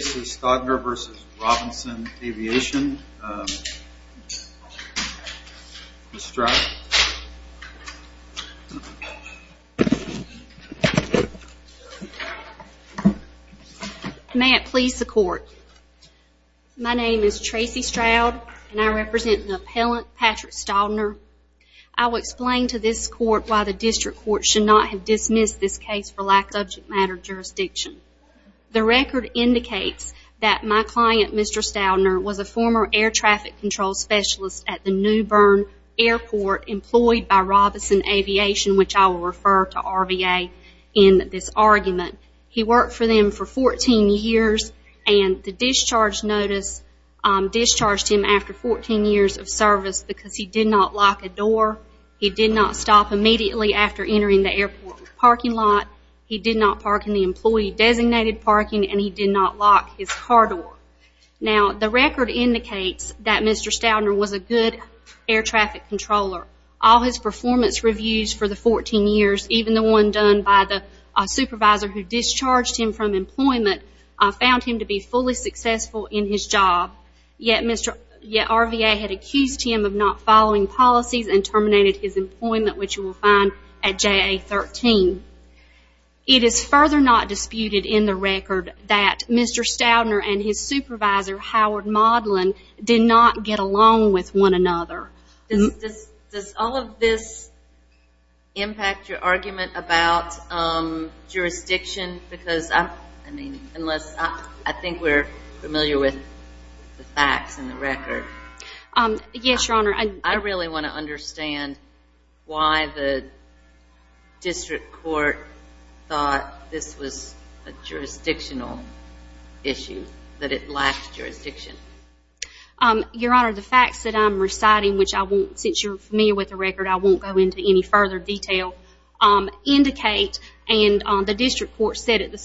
Tracey Staudner v. Robinson Aviation, Mr. Stroud. May it please the court. My name is Tracey Stroud and I represent the appellant Patrick Staudner. I will explain to this court why the district court should not have dismissed this case for lack of subject matter jurisdiction. The record indicates that my client, Mr. Staudner, was a former air traffic control specialist at the New Bern Airport employed by Robinson Aviation, which I will refer to RVA in this argument. He worked for them for 14 years and the discharge notice discharged him after 14 years of service because he did not lock the door. He did not stop immediately after entering the airport parking lot. He did not park in the employee designated parking and he did not lock his car door. Now, the record indicates that Mr. Staudner was a good air traffic controller. All his performance reviews for the 14 years, even the one done by the supervisor who discharged him from employment, found him to be fully successful in his job, yet RVA had accused him of not following policy and terminated his employment, which you will find at JA-13. It is further not disputed in the record that Mr. Staudner and his supervisor, Howard Modlin, did not get along with one another. Does all of this impact your argument about jurisdiction? Because I mean, unless I think we're familiar with the facts in the record. Yes, Your Honor. I really want to understand why the district court thought this was a jurisdictional issue, that it lacked jurisdiction. Your Honor, the facts that I'm reciting, which I won't, since you're familiar with the record, I won't go into any further detail, indicate and the district court said in its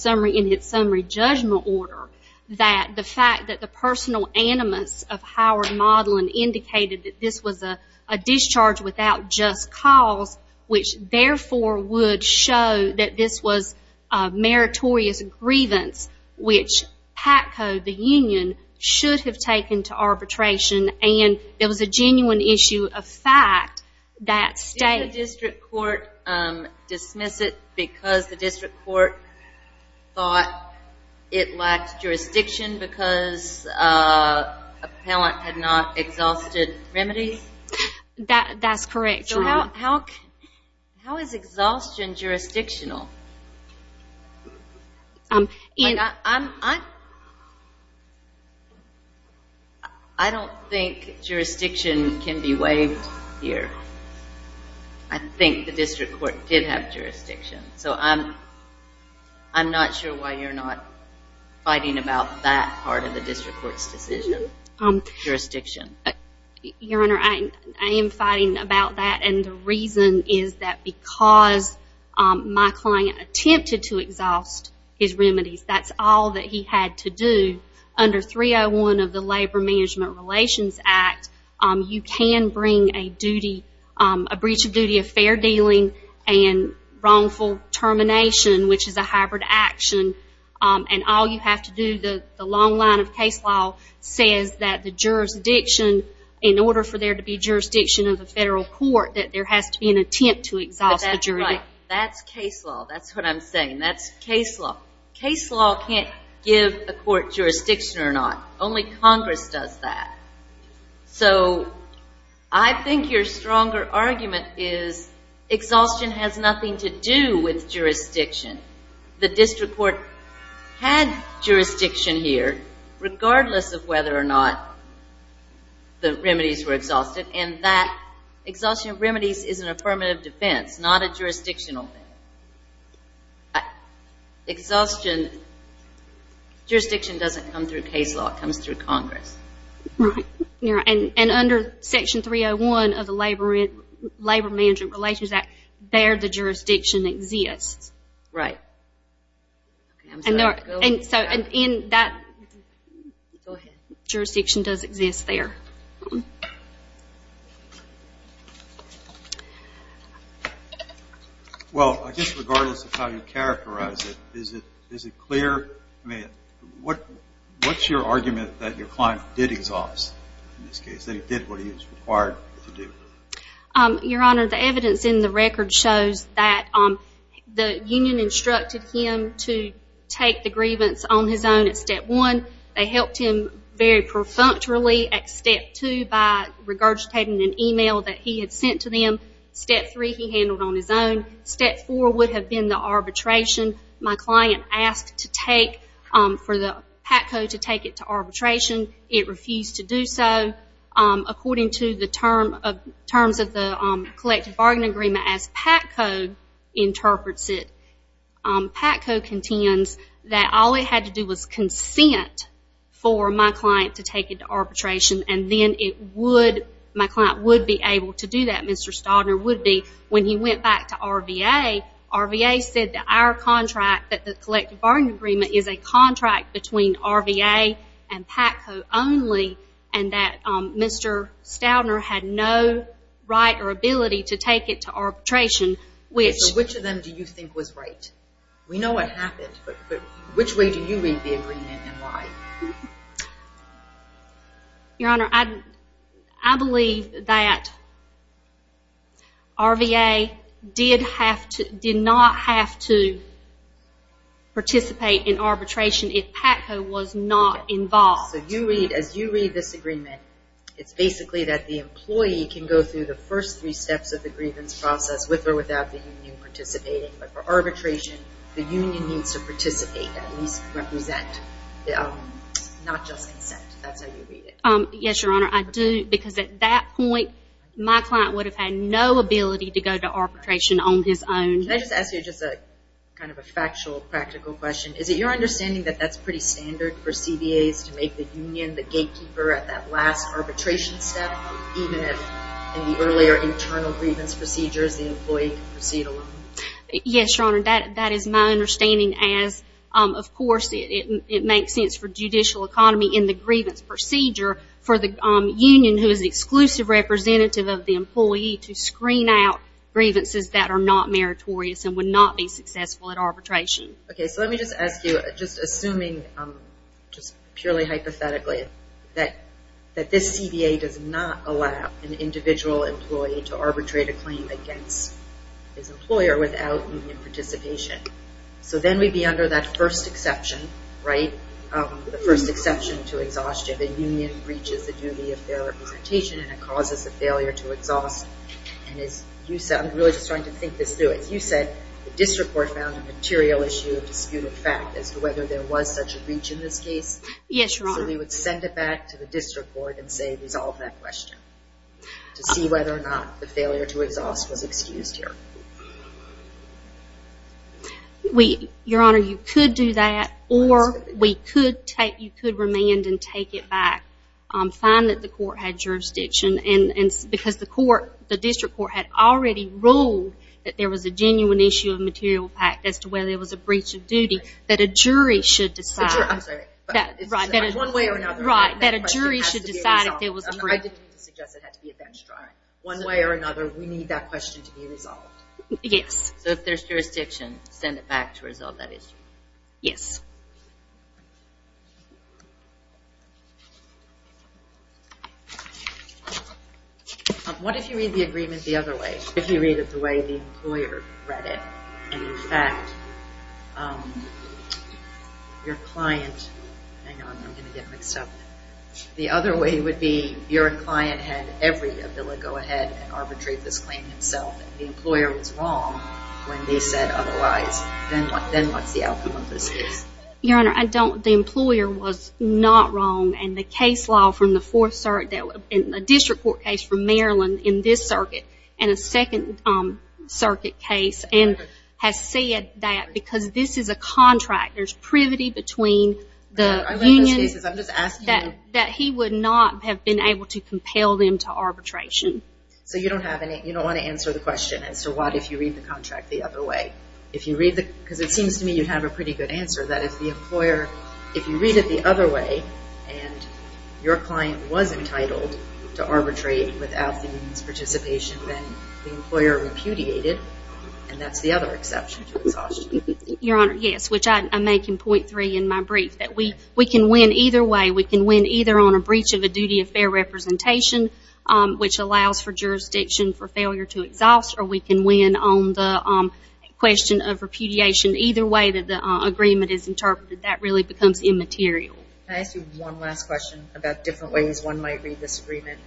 summary judgment order that the fact that the personal animus of Howard Modlin indicated that this was a discharge without just cause, which therefore would show that this was meritorious grievance, which PACCO, the union, should have taken to arbitration, and it was a genuine issue of fact that state... Did the district court dismiss it because the district court thought it lacked jurisdiction because appellant had not exhausted remedies? That's correct, Your Honor. How is exhaustion jurisdictional? I don't think jurisdiction can be waived here. I think the district court did have jurisdiction. I'm not sure why you're not fighting about that part of the district court's decision, jurisdiction. Your Honor, I am fighting about that, and the reason is that because my client attempted to exhaust his remedies. That's all that he had to do. Under 301 of the Labor Management Relations Act, you can bring a breach of duty of fair dealing and wrongful termination, which is a hybrid action, and all you have to do, the long line of case law says that the jurisdiction, in order for there to be jurisdiction of the federal court, that there has to be an attempt to exhaust the jurisdiction. That's right. That's case law. That's what I'm saying. That's case law. Case law can't give a court jurisdiction or not. Only Congress does that. So I think your stronger argument is exhaustion has nothing to do with jurisdiction. The district court had jurisdiction here, regardless of whether or not the remedies were exhausted, and that exhaustion of remedies is an affirmative defense, not a jurisdictional thing. Exhaustion, jurisdiction doesn't come through case law. It comes through Congress. Right. And under Section 301 of the Labor Management Relations Act, there the jurisdiction exists. Right. I'm sorry. Go ahead. Jurisdiction does exist there. Well, I guess regardless of how you characterize it, is it clear? I mean, what's your argument that your client did exhaust in this case, that he did what he was required to do? Your Honor, the evidence in the record shows that the union instructed him to take the grievance on his own at Step 1. They helped him very perfunctorily at Step 2 by regurgitating an email that he had sent to them. Step 3, he handled on his own. Step 4 would have been the arbitration. My client asked to take, for the PACO to take it to arbitration. It refused to do so. According to the terms of the collective bargaining agreement as PACO interprets it, PACO contends that all it had to do was consent for my client to take it to arbitration, and then my client would be able to do that. Mr. Stoudner would be. When he went back to RVA, RVA said that our contract, that the collective bargaining agreement is a contract between RVA and PACO only, and Mr. Stoudner had no right or ability to take it to arbitration. Which of them do you think was right? We know what happened, but which way do you read the agreement and why? Your Honor, I believe that RVA did not have to participate in arbitration if PACO was not involved. So you read, as you read this agreement, it's basically that the employee can go through the first three steps of the grievance process with or without the union participating, but for arbitration, the union needs to participate, at least represent, not just consent. That's how you read it. Yes, Your Honor, I do, because at that point, my client would have had no ability to go to arbitration on his own. Can I just ask you just a kind of a factual, practical question? Is it your understanding that that's pretty standard for CBAs to make the union the gatekeeper at that last arbitration step, even if in the earlier internal grievance procedures, the employee can proceed alone? Yes, Your Honor, that is my understanding as, of course, it makes sense for judicial economy in the grievance procedure for the union who is exclusive representative of the employee to screen out grievances that are not meritorious and would not be successful at arbitration. Okay, so let me just ask you, just assuming, just purely hypothetically, that this CBA does not allow an individual employee to arbitrate a claim against his employer without union participation. So then we'd be under that first exception, right? The first exception to exhaustion, the union breaches the duty of their representation and it causes the failure to exhaust. And as you said, I'm really just trying to dispute a fact as to whether there was such a breach in this case. Yes, Your Honor. So we would send it back to the district court and say resolve that question to see whether or not the failure to exhaust was excused here. We, Your Honor, you could do that or we could take, you could remand and take it back, find that the court had jurisdiction and because the court, the district court, had already ruled that there was a genuine issue of material fact as to whether there was a breach of duty that a jury should decide. I'm sorry. One way or another. Right, that a jury should decide if there was a breach. I didn't suggest it had to be a bench drive. One way or another, we need that question to be resolved. Yes. So if there's jurisdiction, send it back to resolve that issue. Yes. What if you read the agreement the other way? If you read it the way the employer read it and in fact your client, hang on, I'm going to get mixed up. The other way would be your client had every ability to go ahead and arbitrate this claim himself and the employer was wrong when they said otherwise. Then what's the outcome of this case? Your Honor, I don't, the employer was not wrong and the case law from the fourth circuit, a district court case from Maryland in this circuit and a second circuit case and has said that because this is a contract, there's privity between the union, that he would not have been able to compel them to arbitration. So you don't have any, you don't read the contract the other way. If you read the, because it seems to me you have a pretty good answer that if the employer, if you read it the other way and your client was entitled to arbitrate without the union's participation, then the employer repudiated and that's the other exception to exhaustion. Your Honor, yes, which I make in point three in my brief that we can win either way. We can win either on a breach of a duty of fair representation, which allows for the question of repudiation either way that the agreement is interpreted. That really becomes immaterial. Can I ask you one last question about different ways one might read this agreement?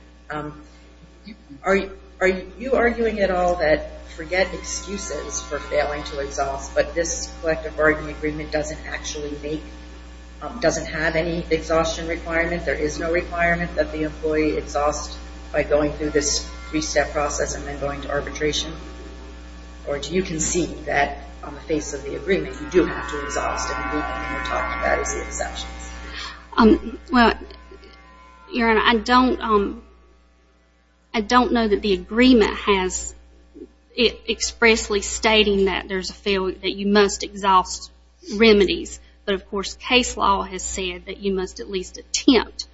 Are you arguing at all that forget excuses for failing to exhaust, but this collective bargaining agreement doesn't actually make, doesn't have any exhaustion requirement? There is no requirement that the employee exhaust by going through this three-step process and then going to arbitration? Or do you concede that on the face of the agreement you do have to exhaust and what you're talking about is the exceptions? Well, Your Honor, I don't, I don't know that the agreement has expressly stating that there's a failure, that you must exhaust remedies, but of course case law has said that you must at least attempt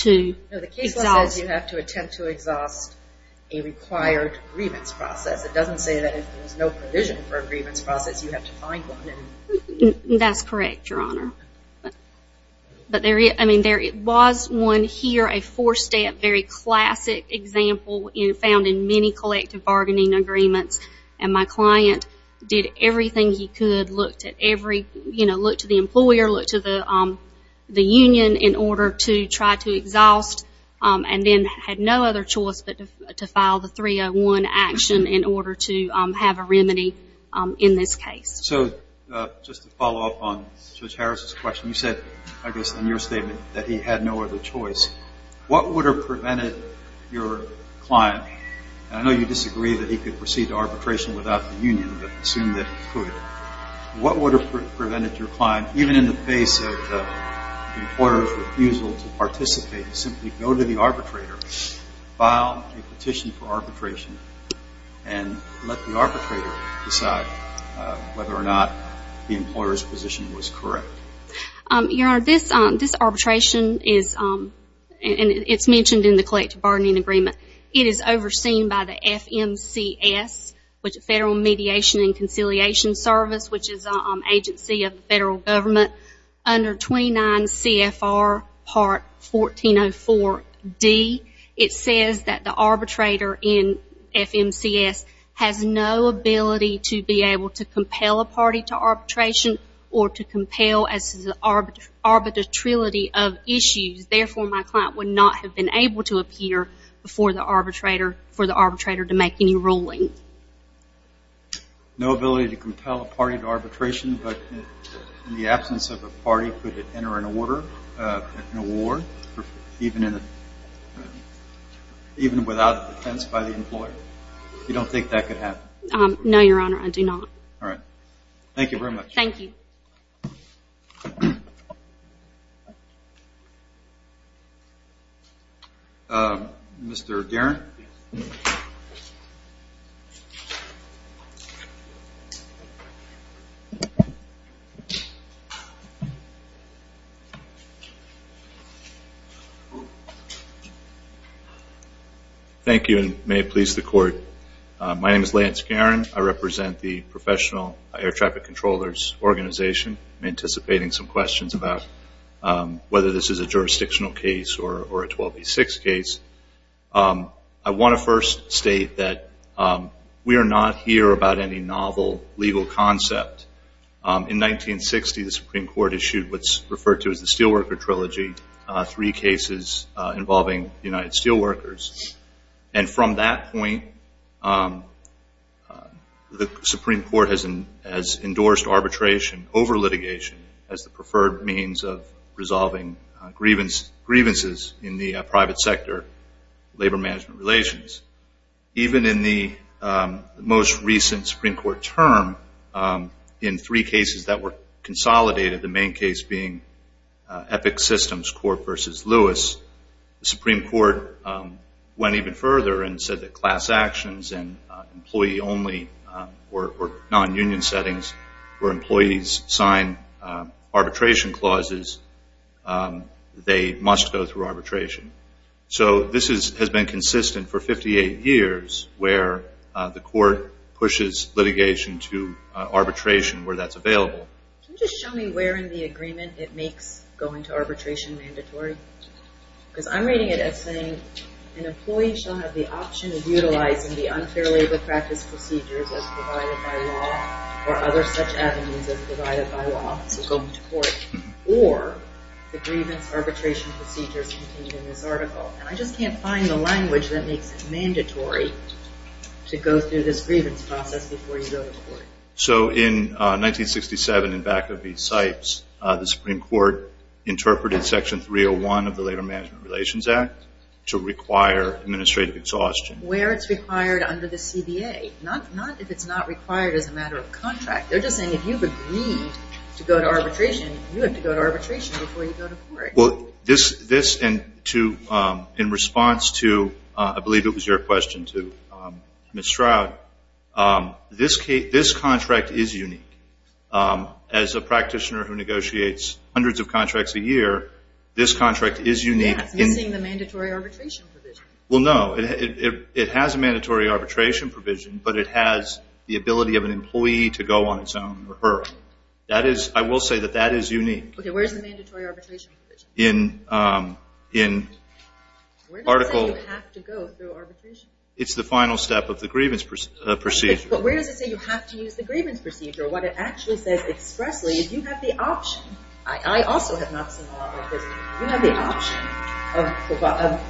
to exhaust. No, the case law says you have to attempt to exhaust a required grievance process. It doesn't say that if there's no provision for a grievance process, you have to find one. That's correct, Your Honor. But there, I mean, there was one here, a four-step, very classic example in, found in many collective bargaining agreements, and my client did everything he could, looked at every, you know, look to the employer, look to the, the union in order to try to exhaust, and then had no other choice but to file the 301 action in order to have a remedy in this case. So just to follow up on Judge Harris's question, you said, I guess, in your statement that he had no other choice. What would have prevented your client, and I know you disagree that he could proceed to arbitration without the union, but assume that he could, what would have prevented your client, even in the face of the employer's refusal to participate, simply go to the arbitrator, file a petition for arbitration, and let the arbitrator decide whether or not the employer's position was correct? Your Honor, this arbitration is, and it's mentioned in the collective bargaining agreement, it is overseen by the FMCS, which is Federal Mediation and Conciliation Service, which is an agency of the Federal Government, under 29 CFR part 1404D. It says that the arbitrator in FMCS has no ability to be able to compel a party to arbitration or to compel arbitratrility of issues. Therefore, my client would not have been able to appear before the arbitrator for to make any ruling. No ability to compel a party to arbitration, but in the absence of a party, could it enter an order, an award, even without defense by the employer? You don't think that could happen? No, Your Honor, I do not. All right. Thank you very much. Thank you. Thank you. Mr. Guerin? Thank you, and may it please the Court. My name is Lance Guerin. I represent the Professional Air Traffic Controllers Organization. I'm anticipating some questions about whether this is a jurisdictional case or a 12B6 case. I want to first state that we are not here about any novel legal concept. In 1960, the Supreme Court issued what's referred to as the Steelworker Trilogy, three cases involving United Steelworkers. And from that point, the Supreme Court has endorsed arbitration over litigation as the preferred means of resolving grievances in the private sector labor management relations. Even in the most recent Supreme Court term, in three cases that were consolidated, the main case being Epic Systems Court v. Lewis, the Supreme Court went even further and said that class actions and employee-only or non-union settings where employees sign arbitration clauses, they must go through arbitration. So this has been consistent for 58 years where the Court pushes litigation to arbitration where that's available. Can you just show me where in the agreement it makes going to arbitration mandatory? Because I'm reading it as saying an employee shall have the option of utilizing the unfair labor practice procedures as provided by law or other such avenues as provided by law, so going to court, or the grievance arbitration procedures contained in this article. And I just can't find the language that makes it mandatory to go through this grievance process before you go to court. So in 1967, in Bacow v. Sipes, the Supreme Court interpreted Section 301 of the Labor Management Relations Act to require administrative exhaustion. Where it's required under the CBA, not if it's not required as a matter of contract. They're just saying if you've agreed to go to arbitration, you have to go to arbitration before you go to court. Well, this and to, in response to, I believe it was your question to Ms. Stroud, this contract is unique. As a practitioner who negotiates hundreds of contracts a year, this contract is unique. Yeah, it's missing the mandatory arbitration provision. Well, no. It has a mandatory arbitration provision, but it has the ability of an employee to go on its own or her own. That is, I will say that that is unique. Okay, where's the mandatory arbitration provision? Where does it say you have to go through arbitration? It's the final step of the grievance procedure. But where does it say you have to use the grievance procedure? What it actually says expressly is you have the option. I also have not seen a lot of this. You have the option of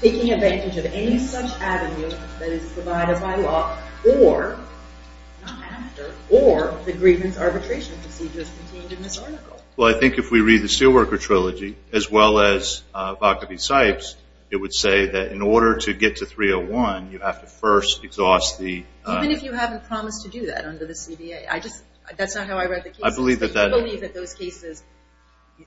taking advantage of any such avenue that is provided by law or, not after, or the grievance arbitration procedures contained in this article. Well, I think if we read the Steelworker Trilogy, as well as Bacchus v. Sipes, it would say that in order to get to 301, you have to first exhaust the... Even if you haven't promised to do that under the CBA. I just, that's not how I read the case. I believe that that... I believe that those cases,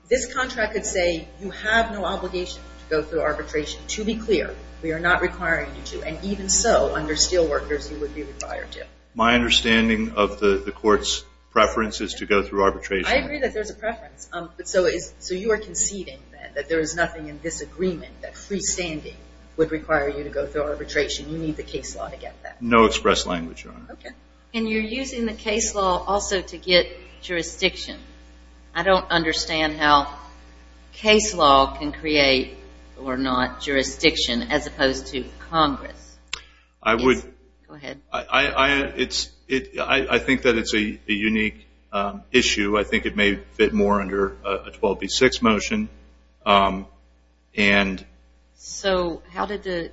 this contract could say you have no obligation to go through arbitration. To be clear, we are not requiring you to. And even so, under Steelworkers, you would be required to. My understanding of the court's preference is to go through arbitration. I agree that there's a preference. So you are conceding that there is nothing in this agreement that freestanding would require you to go through arbitration. You need the case law to get that. No express language, Your Honor. Okay. And you're using the case law also to get jurisdiction. I don't understand how case law can create, or not, jurisdiction, as opposed to Congress. I would... Please, go ahead. It's... I think that it's a unique issue. I think it may fit more under a 12B6 motion. And... So, how did the...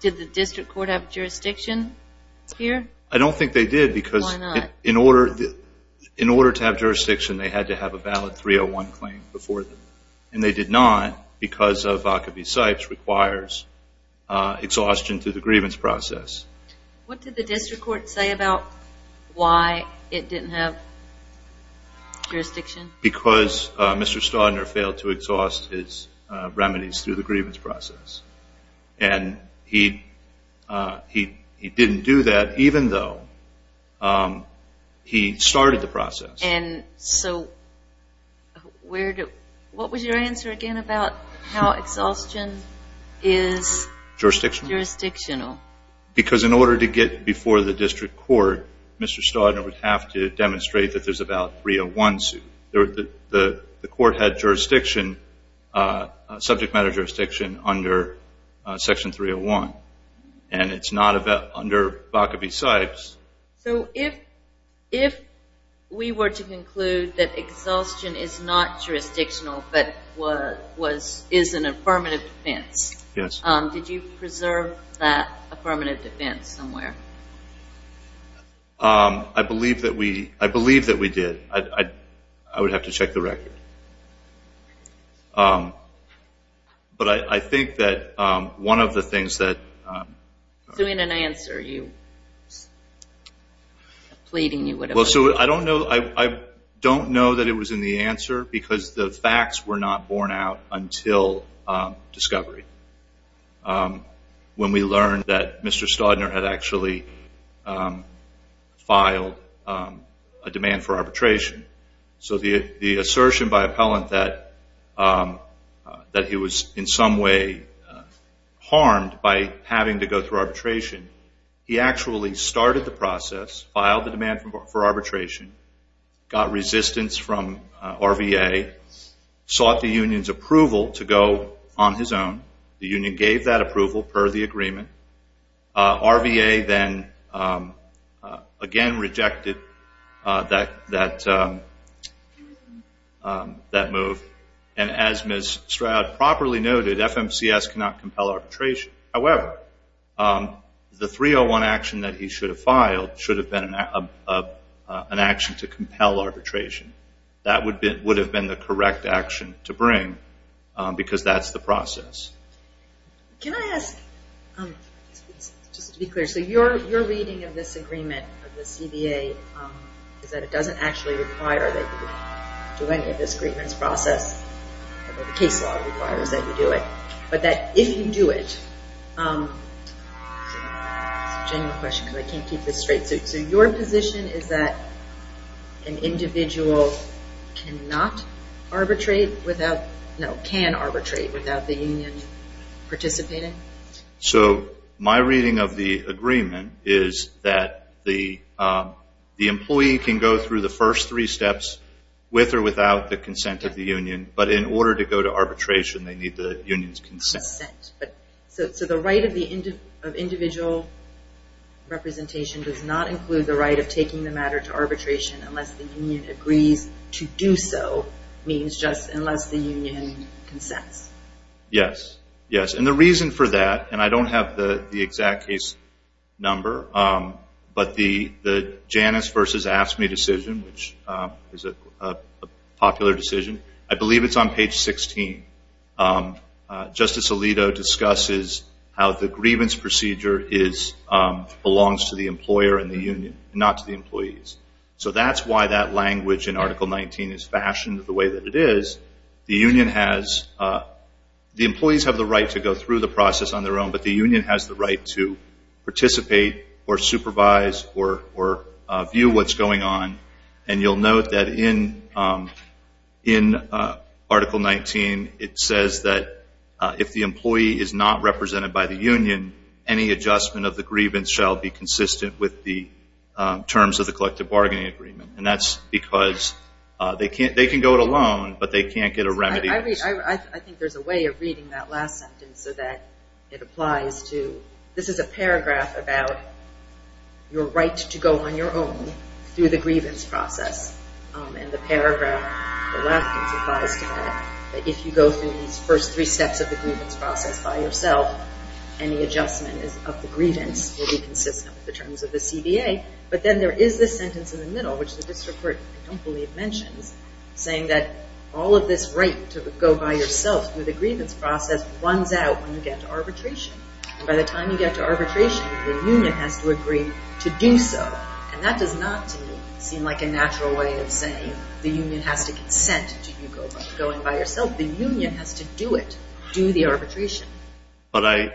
Did the district court have jurisdiction here? I don't think they did because... Why not? In order to have jurisdiction, they had to have a valid 301 claim before them. And they did not because of Vaca v. Sipes requires exhaustion to the grievance process. What did the district court say about why it didn't have jurisdiction? Because Mr. Staudner failed to exhaust his remedies through the grievance process. And he didn't do that even though he started the process. And so, where do... What was your answer again about how exhaustion is... Jurisdictional. Jurisdictional. Because in order to get before the district court, Mr. Staudner would have to demonstrate that there's about a 301 suit. The court had jurisdiction, subject matter jurisdiction, under Section 301. And it's not under Vaca v. Sipes. So, if we were to conclude that exhaustion is not jurisdictional, but is an affirmative defense... Yes. Did you preserve that affirmative defense somewhere? I believe that we did. I would have to check the record. But I think that one of the things that... So, in an answer, you... Pleading you would have... Well, so, I don't know that it was in the answer because the facts were not borne out until discovery. When we learned that Mr. Staudner had actually filed a demand for arbitration. So, the assertion by appellant that he was in some way harmed by having to go through arbitration, he actually started the process, filed the demand for arbitration, got resistance from RVA, sought the union's approval to go on his own. The union gave that approval per the agreement. RVA then again rejected that move. And as Ms. Stroud properly noted, FMCS cannot compel arbitration. However, the 301 action that he should have filed should have been an action to compel arbitration. That would have been the correct action to bring because that's the process. Can I ask, just to be clear, so your reading of this agreement, of the CBA, is that it doesn't actually require that you do any of this agreements process. The case law requires that you do it. But that if you do it... It's a genuine question because I can't keep this straight. So, your position is that an individual cannot arbitrate without, no, can arbitrate without the union participating? So, my reading of the agreement is that the employee can go through the first three steps with or without the consent of the union. But in order to go to arbitration, they need the union's consent. So, the right of individual representation does not include the right of taking the matter to arbitration unless the union agrees to do so, means just unless the union consents. Yes. Yes. And the reason for that, and I don't have the exact case number, but the Janus versus AFSCME decision, which is a popular decision, I believe it's on page 16. Justice Alito discusses how the grievance procedure belongs to the employer and the union, not to the employees. So, that's why that language in Article 19 is fashioned the way that it is. The union has... The employees have the right to go through the process on their own, but the union has the right to participate or supervise or view what's going on. And you'll note that in Article 19, it says that if the employee is not represented by the union, any adjustment of the grievance shall be consistent with the terms of the collective bargaining agreement. And that's because they can go it alone, but they can't get a remedy. I think there's a way of reading that last sentence so that it applies to... This is a paragraph about your right to go on your own through the grievance process. And the paragraph on the left applies to that, that if you go through these first three steps of the grievance process by yourself, any adjustment of the grievance will be consistent with the terms of the CBA. But then there is this sentence in the middle, which the district court, I don't believe, mentions, saying that all of this right to go by yourself through the grievance process runs out when you get to arbitration. By the time you get to arbitration, the union has to agree to do so. And that does not seem like a natural way of saying the union has to consent to you going by yourself. The union has to do it, do the arbitration. But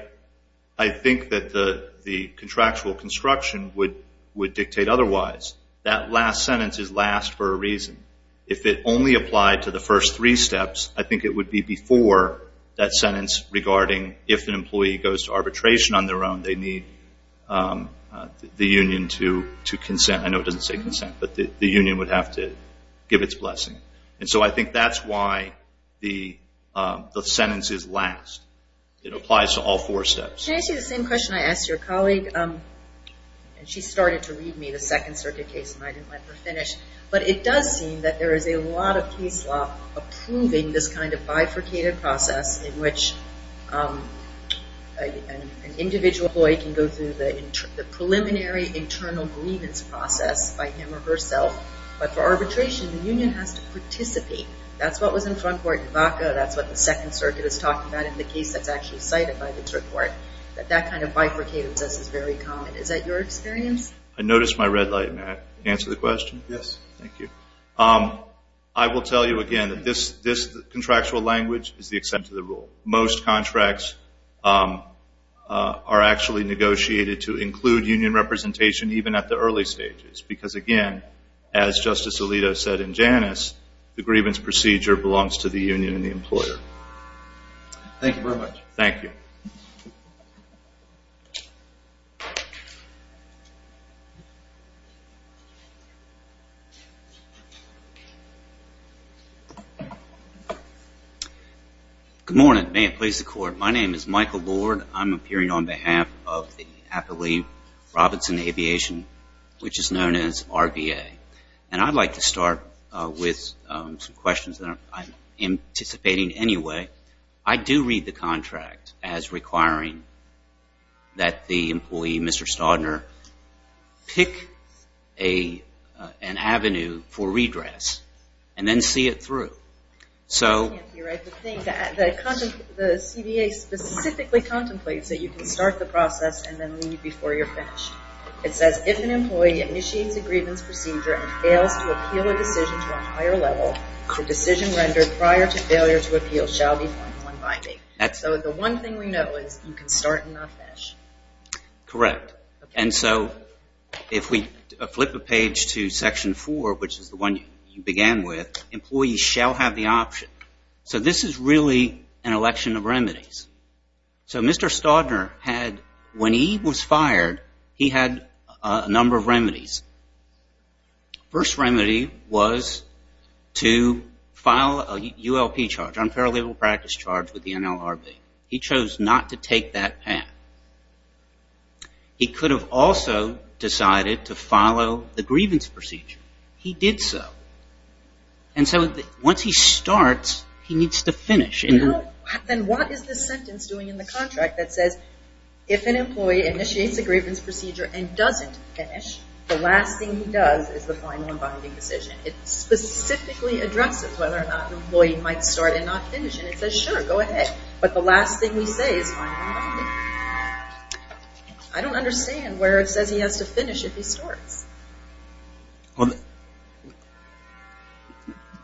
I think that the contractual construction would dictate otherwise. That last sentence is last for a reason. If it only applied to the first three steps, I think it would be before that sentence regarding if an employee goes to arbitration on their own, they need the union to consent. I know it doesn't say consent, but the union would have to give its blessing. And so I think that's why the sentence is last. It applies to all four steps. Can I ask you the same question I asked your colleague? And she started to read me the Second Circuit case and I didn't let her finish. But it does seem that there is a lot of case law approving this kind of bifurcated process in which an individual employee can go through the preliminary internal grievance process by him or herself. But for arbitration, the union has to participate. That's what was in front court in Vaca. That's what the Second Circuit is talking about in the case that's actually cited by the court. That that kind of bifurcated process is very common. Is that your experience? I noticed my red light, Matt. Answer the question. Thank you. I will tell you again that this contractual language is the extent of the rule. Most contracts are actually negotiated to include union representation even at the early stages. Because again, as Justice Alito said in Janus, the grievance procedure belongs to the union and the employer. Thank you very much. Thank you. Good morning. May it please the court. My name is Michael Lord. I'm appearing on behalf of the Applee Robinson Aviation, which is known as RVA. And I'd like to start with some questions that I'm anticipating anyway. I do read the contract as requiring that the employee, Mr. Staudner, pick an avenue for redress and then see it through. So the CBA specifically contemplates that you can start the process and then leave before you're finished. It says, if an employee initiates a grievance procedure and fails to appeal a decision to a higher level, the decision rendered prior to failure to appeal shall be formal and binding. So the one thing we know is you can start and not finish. Correct. And so if we flip a page to section four, which is the one you began with, employees shall have the option. So this is really an election of remedies. So Mr. Staudner had, when he was fired, he had a number of remedies. First remedy was to file a ULP charge, unparalleled practice charge, with the NLRB. He chose not to take that path. He could have also decided to follow the grievance procedure. He did so. And so once he starts, he needs to finish. No, then what is this sentence doing in the contract that says, if an employee initiates a grievance procedure and doesn't finish, the last thing he does is the final and binding decision. It specifically addresses whether or not an employee might start and not finish. And it says, sure, go ahead. But the last thing we say is final and binding. I don't understand where it says he has to finish if he starts. Well,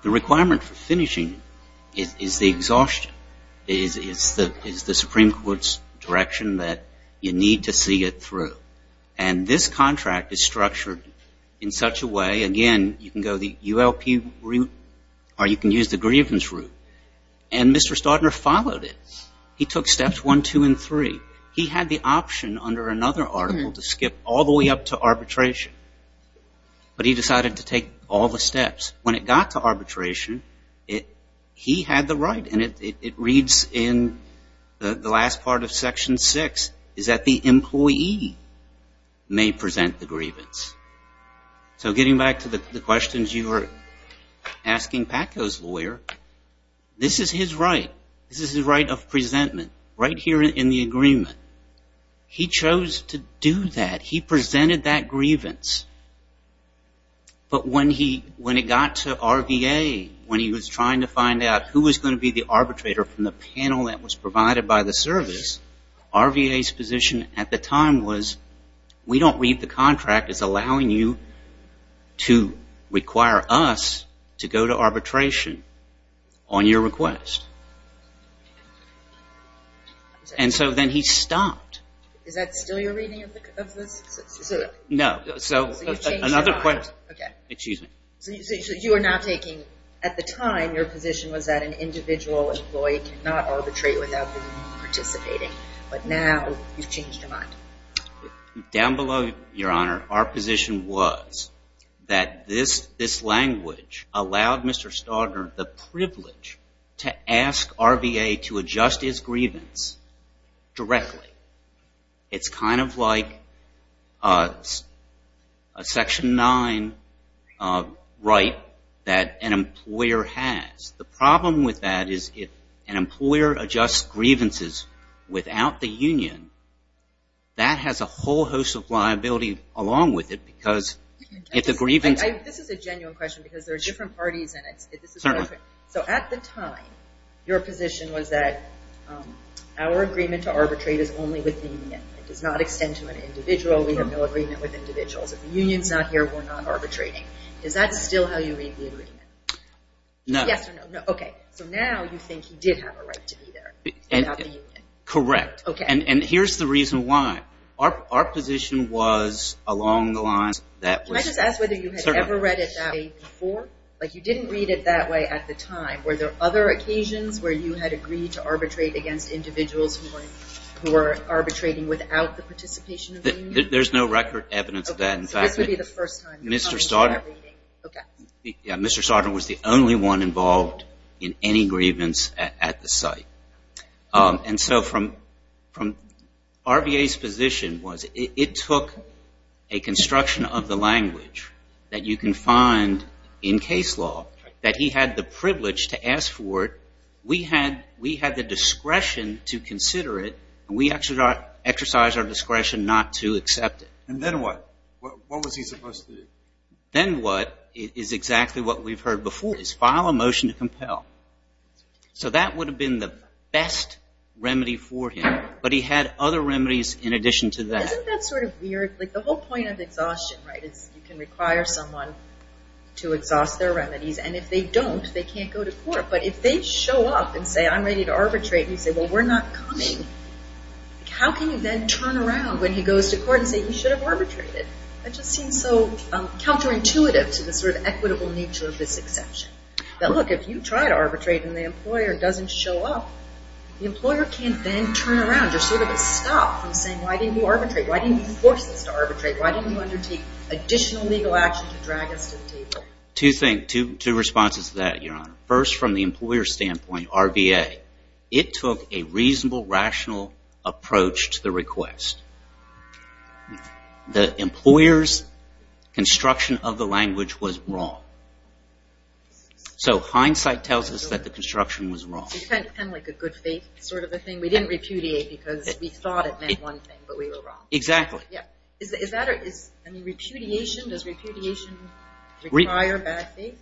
the requirement for finishing is the exhaustion, is the Supreme Court's direction that you need to see it through. And this contract is structured in such a way, again, you can go the ULP route or you can use the grievance route. And Mr. Staudner followed it. He took steps one, two, and three. He had the option under another article to skip all the way up to arbitration. But he decided to take all the steps. When it got to arbitration, he had the right. And it reads in the last part of section six, is that the employee may present the grievance. So getting back to the questions you were asking Paco's lawyer, this is his right. This is his right of presentment, right here in the agreement. He chose to do that. He presented that grievance. But when it got to RVA, when he was trying to find out who was going to be the arbitrator from the panel that was provided by the service, RVA's position at the time was, we don't read the contract as allowing you to require us to go to arbitration on your request. And so then he stopped. Is that still your reading of this? No, so another question. Okay. Excuse me. So you are not taking, at the time, your position was that an individual employee cannot arbitrate without participating. But now you've changed your mind. Down below, Your Honor, our position was that this language allowed Mr. Staudner the privilege to ask RVA to adjust his grievance directly. It's kind of like a Section 9 right that an employer has. The problem with that is, if an employer adjusts grievances without the union, that has a whole host of liability along with it. This is a genuine question because there are different parties in it. So at the time, your position was that our agreement to arbitrate is only with the union. It does not extend to an individual. We have no agreement with individuals. If the union's not here, we're not arbitrating. Is that still how you read the agreement? No. Yes or no? Okay. So now you think he did have a right to be there without the union. Correct. And here's the reason why. Our position was along the lines that... Can I just ask whether you had ever read it that way before? You didn't read it that way at the time. Were there other occasions where you had agreed to arbitrate against individuals who were arbitrating without the participation of the union? There's no record evidence of that. So this would be the first time... Mr. Sautner was the only one involved in any grievance at the site. And so from RVA's position was, it took a construction of the language that you can find in case law, that he had the privilege to ask for it. We had the discretion to consider it, and we exercised our discretion not to accept it. And then what? What was he supposed to do? Then what is exactly what we've heard before, is file a motion to compel. So that would have been the best remedy for him, but he had other remedies in addition to that. Isn't that sort of weird? Like the whole point of exhaustion, right? You can require someone to exhaust their remedies, and if they don't, they can't go to court. But if they show up and say, I'm ready to arbitrate, and you say, well, we're not coming. How can you then turn around when he goes to court and say, you should have arbitrated? That just seems so counterintuitive to the sort of equitable nature of this exception. But look, if you try to arbitrate and the employer doesn't show up, the employer can't then turn around, just sort of stop from saying, why didn't you arbitrate? Why didn't you force us to arbitrate? Why didn't you undertake additional legal action to drag us to the table? Two things, two responses to that, Your Honor. First, from the employer's standpoint, RBA, it took a reasonable, rational approach to the request. The employer's construction of the language was wrong. So hindsight tells us that the construction was wrong. It's kind of like a good faith sort of a thing. We didn't repudiate because we thought it meant one thing, but we were wrong. Exactly. Is that, I mean, repudiation, does repudiation require bad faith?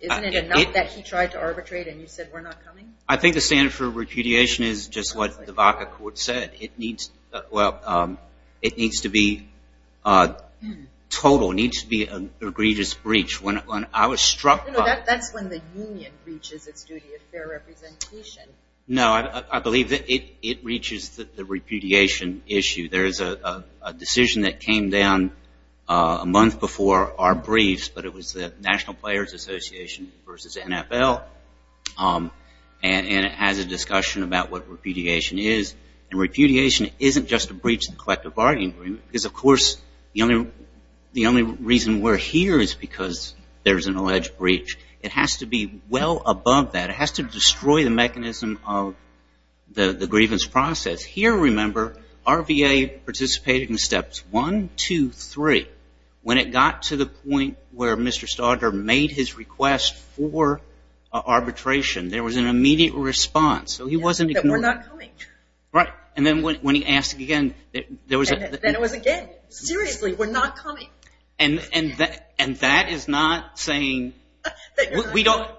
Isn't it enough that he tried to arbitrate and you said, we're not coming? I think the standard for repudiation is just what the VACA court said. It needs, well, it needs to be total, needs to be an egregious breach. When I was struck by- That's when the union reaches its duty of fair representation. No, I believe that it reaches the repudiation issue. There is a decision that came down a month before our briefs, but it was the National Players Association versus NFL. And it has a discussion about what repudiation is. And repudiation isn't just a breach of the collective bargaining agreement because, of course, the only reason we're here is because there's an alleged breach. It has to be well above that. It has to destroy the mechanism of the grievance process. Here, remember, our VA participated in steps one, two, three. When it got to the point where Mr. Staudter made his request for arbitration, there was an immediate response. So he wasn't ignored. That we're not coming. Right. And then when he asked again, there was a- Then it was again. Seriously, we're not coming. And that is not saying- That you're not coming. We don't,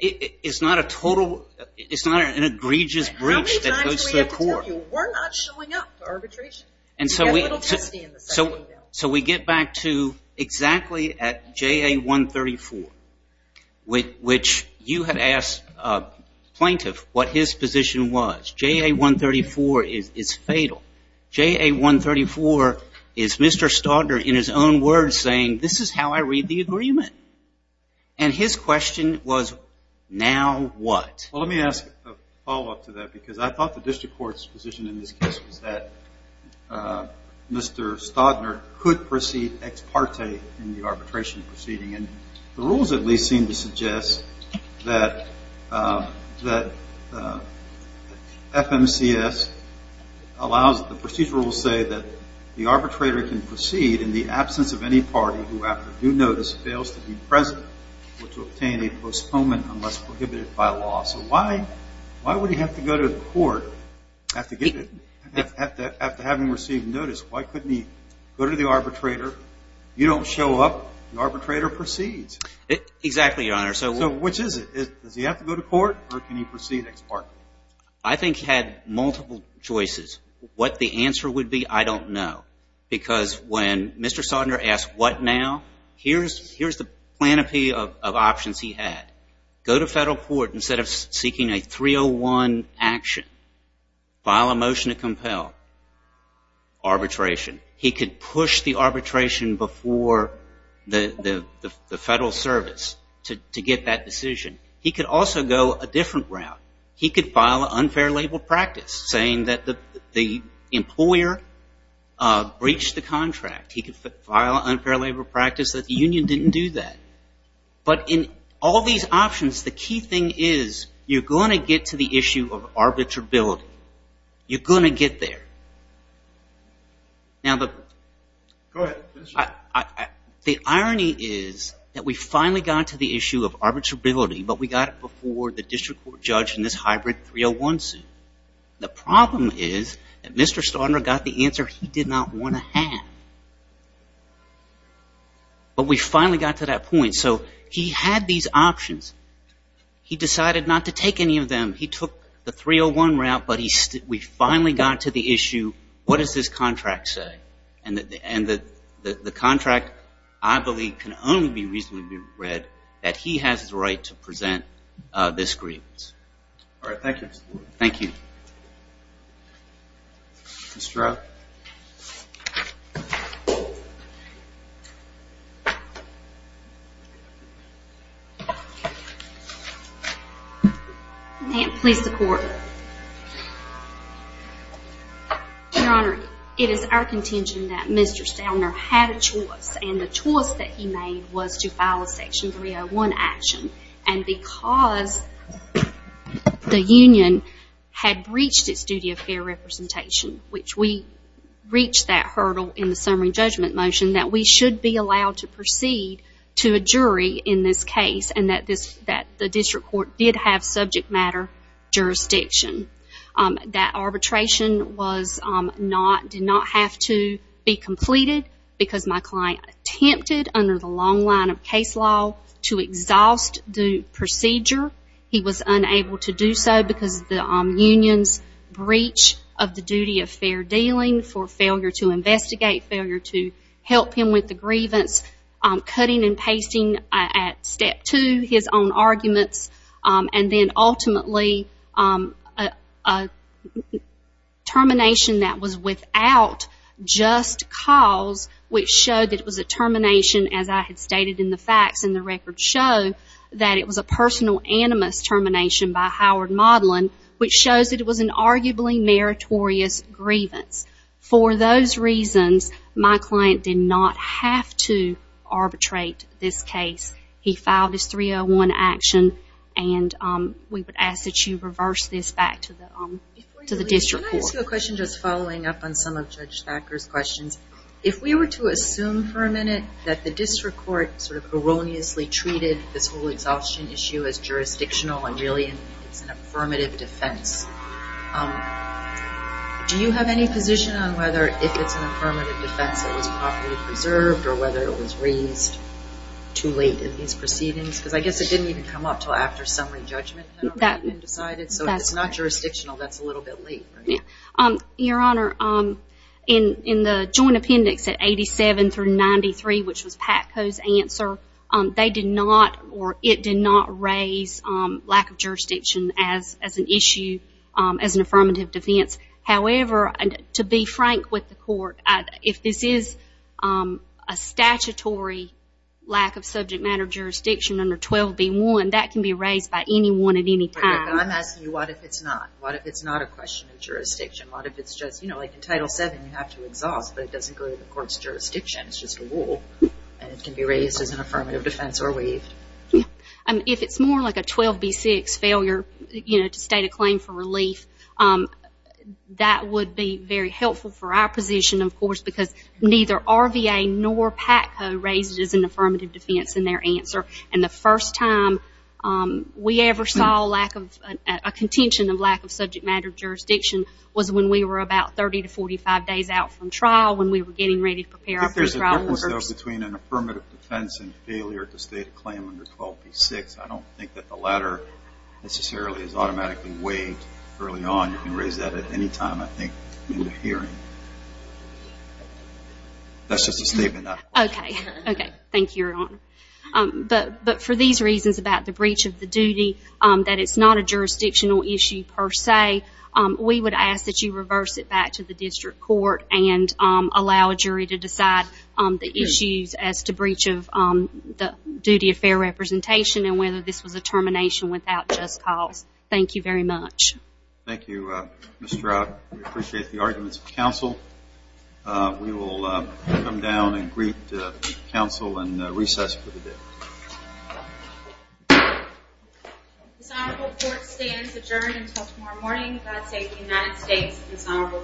it's not a total, it's not an egregious breach that goes to the court. We're not showing up for arbitration. And so we get back to exactly at JA-134, which you had asked a plaintiff what his position was. JA-134 is fatal. JA-134 is Mr. Staudter in his own words saying, this is how I read the agreement. And his question was, now what? Well, let me ask a follow-up to that because I thought the district court's position in this case was that Mr. Staudter could proceed ex parte in the arbitration proceeding. And the rules at least seem to suggest that FMCS allows, the procedural will say that the arbitrator can proceed in the absence of any party who after due notice fails to be present or to obtain a postponement unless prohibited by law. So why would he have to go to the court after having received notice? Why couldn't he go to the arbitrator? You don't show up, the arbitrator proceeds. Exactly, Your Honor. So which is it? Does he have to go to court or can he proceed ex parte? I think he had multiple choices. What the answer would be, I don't know. Because when Mr. Staudter asked what now, here's the plenipotentiary of options he had. Go to federal court instead of seeking a 301 action. File a motion to compel arbitration. He could push the arbitration before the federal service to get that decision. He could also go a different route. He could file an unfair labor practice saying that the employer breached the contract. He could file an unfair labor practice that the union didn't do that. But in all these options, the key thing is you're going to get to the issue of arbitrability. You're going to get there. Now, the irony is that we finally got to the issue of arbitrability, but we got it before the district court judge in this hybrid 301 suit. The problem is that Mr. Staudter got the answer he did not want to have. But we finally got to that point. So he had these options. He decided not to take any of them. He took the 301 route, but we finally got to the issue, what does this contract say? And the contract, I believe, can only be reasonably read that he has the right to present this grievance. All right. Thank you, Mr. Lord. Thank you. Mr. Rowe. Thank you. Please support. Your Honor, it is our contention that Mr. Staudter had a choice. And the choice that he made was to file a section 301 action. And because the union had breached its duty of fair representation, which we reached that hurdle in the summary judgment motion, that we should be allowed to proceed to a jury in this case and that the district court did have subject matter jurisdiction. That arbitration did not have to be completed because my client attempted under the long line of case law to exhaust the procedure. He was unable to do so because the union's breach of the duty of fair dealing for failure to investigate, failure to help him with the grievance, cutting and pasting at step two his own arguments, and then ultimately a termination that was without just cause, which showed that it was a termination, as I had stated in the facts and the records show, that it was a personal animus termination by Howard Modlin, which shows that it was an arguably meritorious grievance. For those reasons, my client did not have to arbitrate this case. He filed his 301 action. And we would ask that you reverse this back to the district court. Can I ask you a question just following up on some of Judge Thacker's questions? If we were to assume for a minute that the district court erroneously treated this whole exhaustion issue as jurisdictional and really it's an affirmative defense, do you have any position on whether if it's an affirmative defense that was properly preserved or whether it was raised too late in these proceedings? Because I guess it didn't even come up until after summary judgment had already been decided. So if it's not jurisdictional, that's a little bit late. Your Honor, in the joint appendix at 87 through 93, which was PATCO's answer, they did not, or it did not raise lack of jurisdiction as an issue as an affirmative defense. However, to be frank with the court, if this is a statutory lack of subject matter jurisdiction under 12b1, that can be raised by anyone at any time. I'm asking you, what if it's not? What if it's not a question of jurisdiction? What if it's just, you know, like in Title VII, you have to exhaust, but it doesn't go to the court's jurisdiction. It's just a rule. And it can be raised as an affirmative defense or waived. If it's more like a 12b6 failure, you know, to state a claim for relief, that would be very helpful for our position, of course, because neither RVA nor PATCO raised it as an affirmative defense in their answer. And the first time we ever saw a contention of lack of subject matter jurisdiction was when we were about 30 to 45 days out from trial, when we were getting ready to prepare our first trial order. But there's a difference, though, between an affirmative defense and failure to state a claim under 12b6. I don't think that the latter necessarily is automatically waived early on. You can raise that at any time, I think, in the hearing. That's just a statement. OK. OK. Thank you, Your Honor. But for these reasons about the breach of the duty, that it's not a jurisdictional issue per se, we would ask that you reverse it back to the district court and allow a jury to decide the issues as to breach of the duty of fair representation and whether this was a termination without just cause. Thank you very much. Thank you, Ms. Stroud. We appreciate the arguments of counsel. We will come down and greet counsel and recess for the day. This honorable court stands adjourned until tomorrow morning. God save the United States of this honorable court.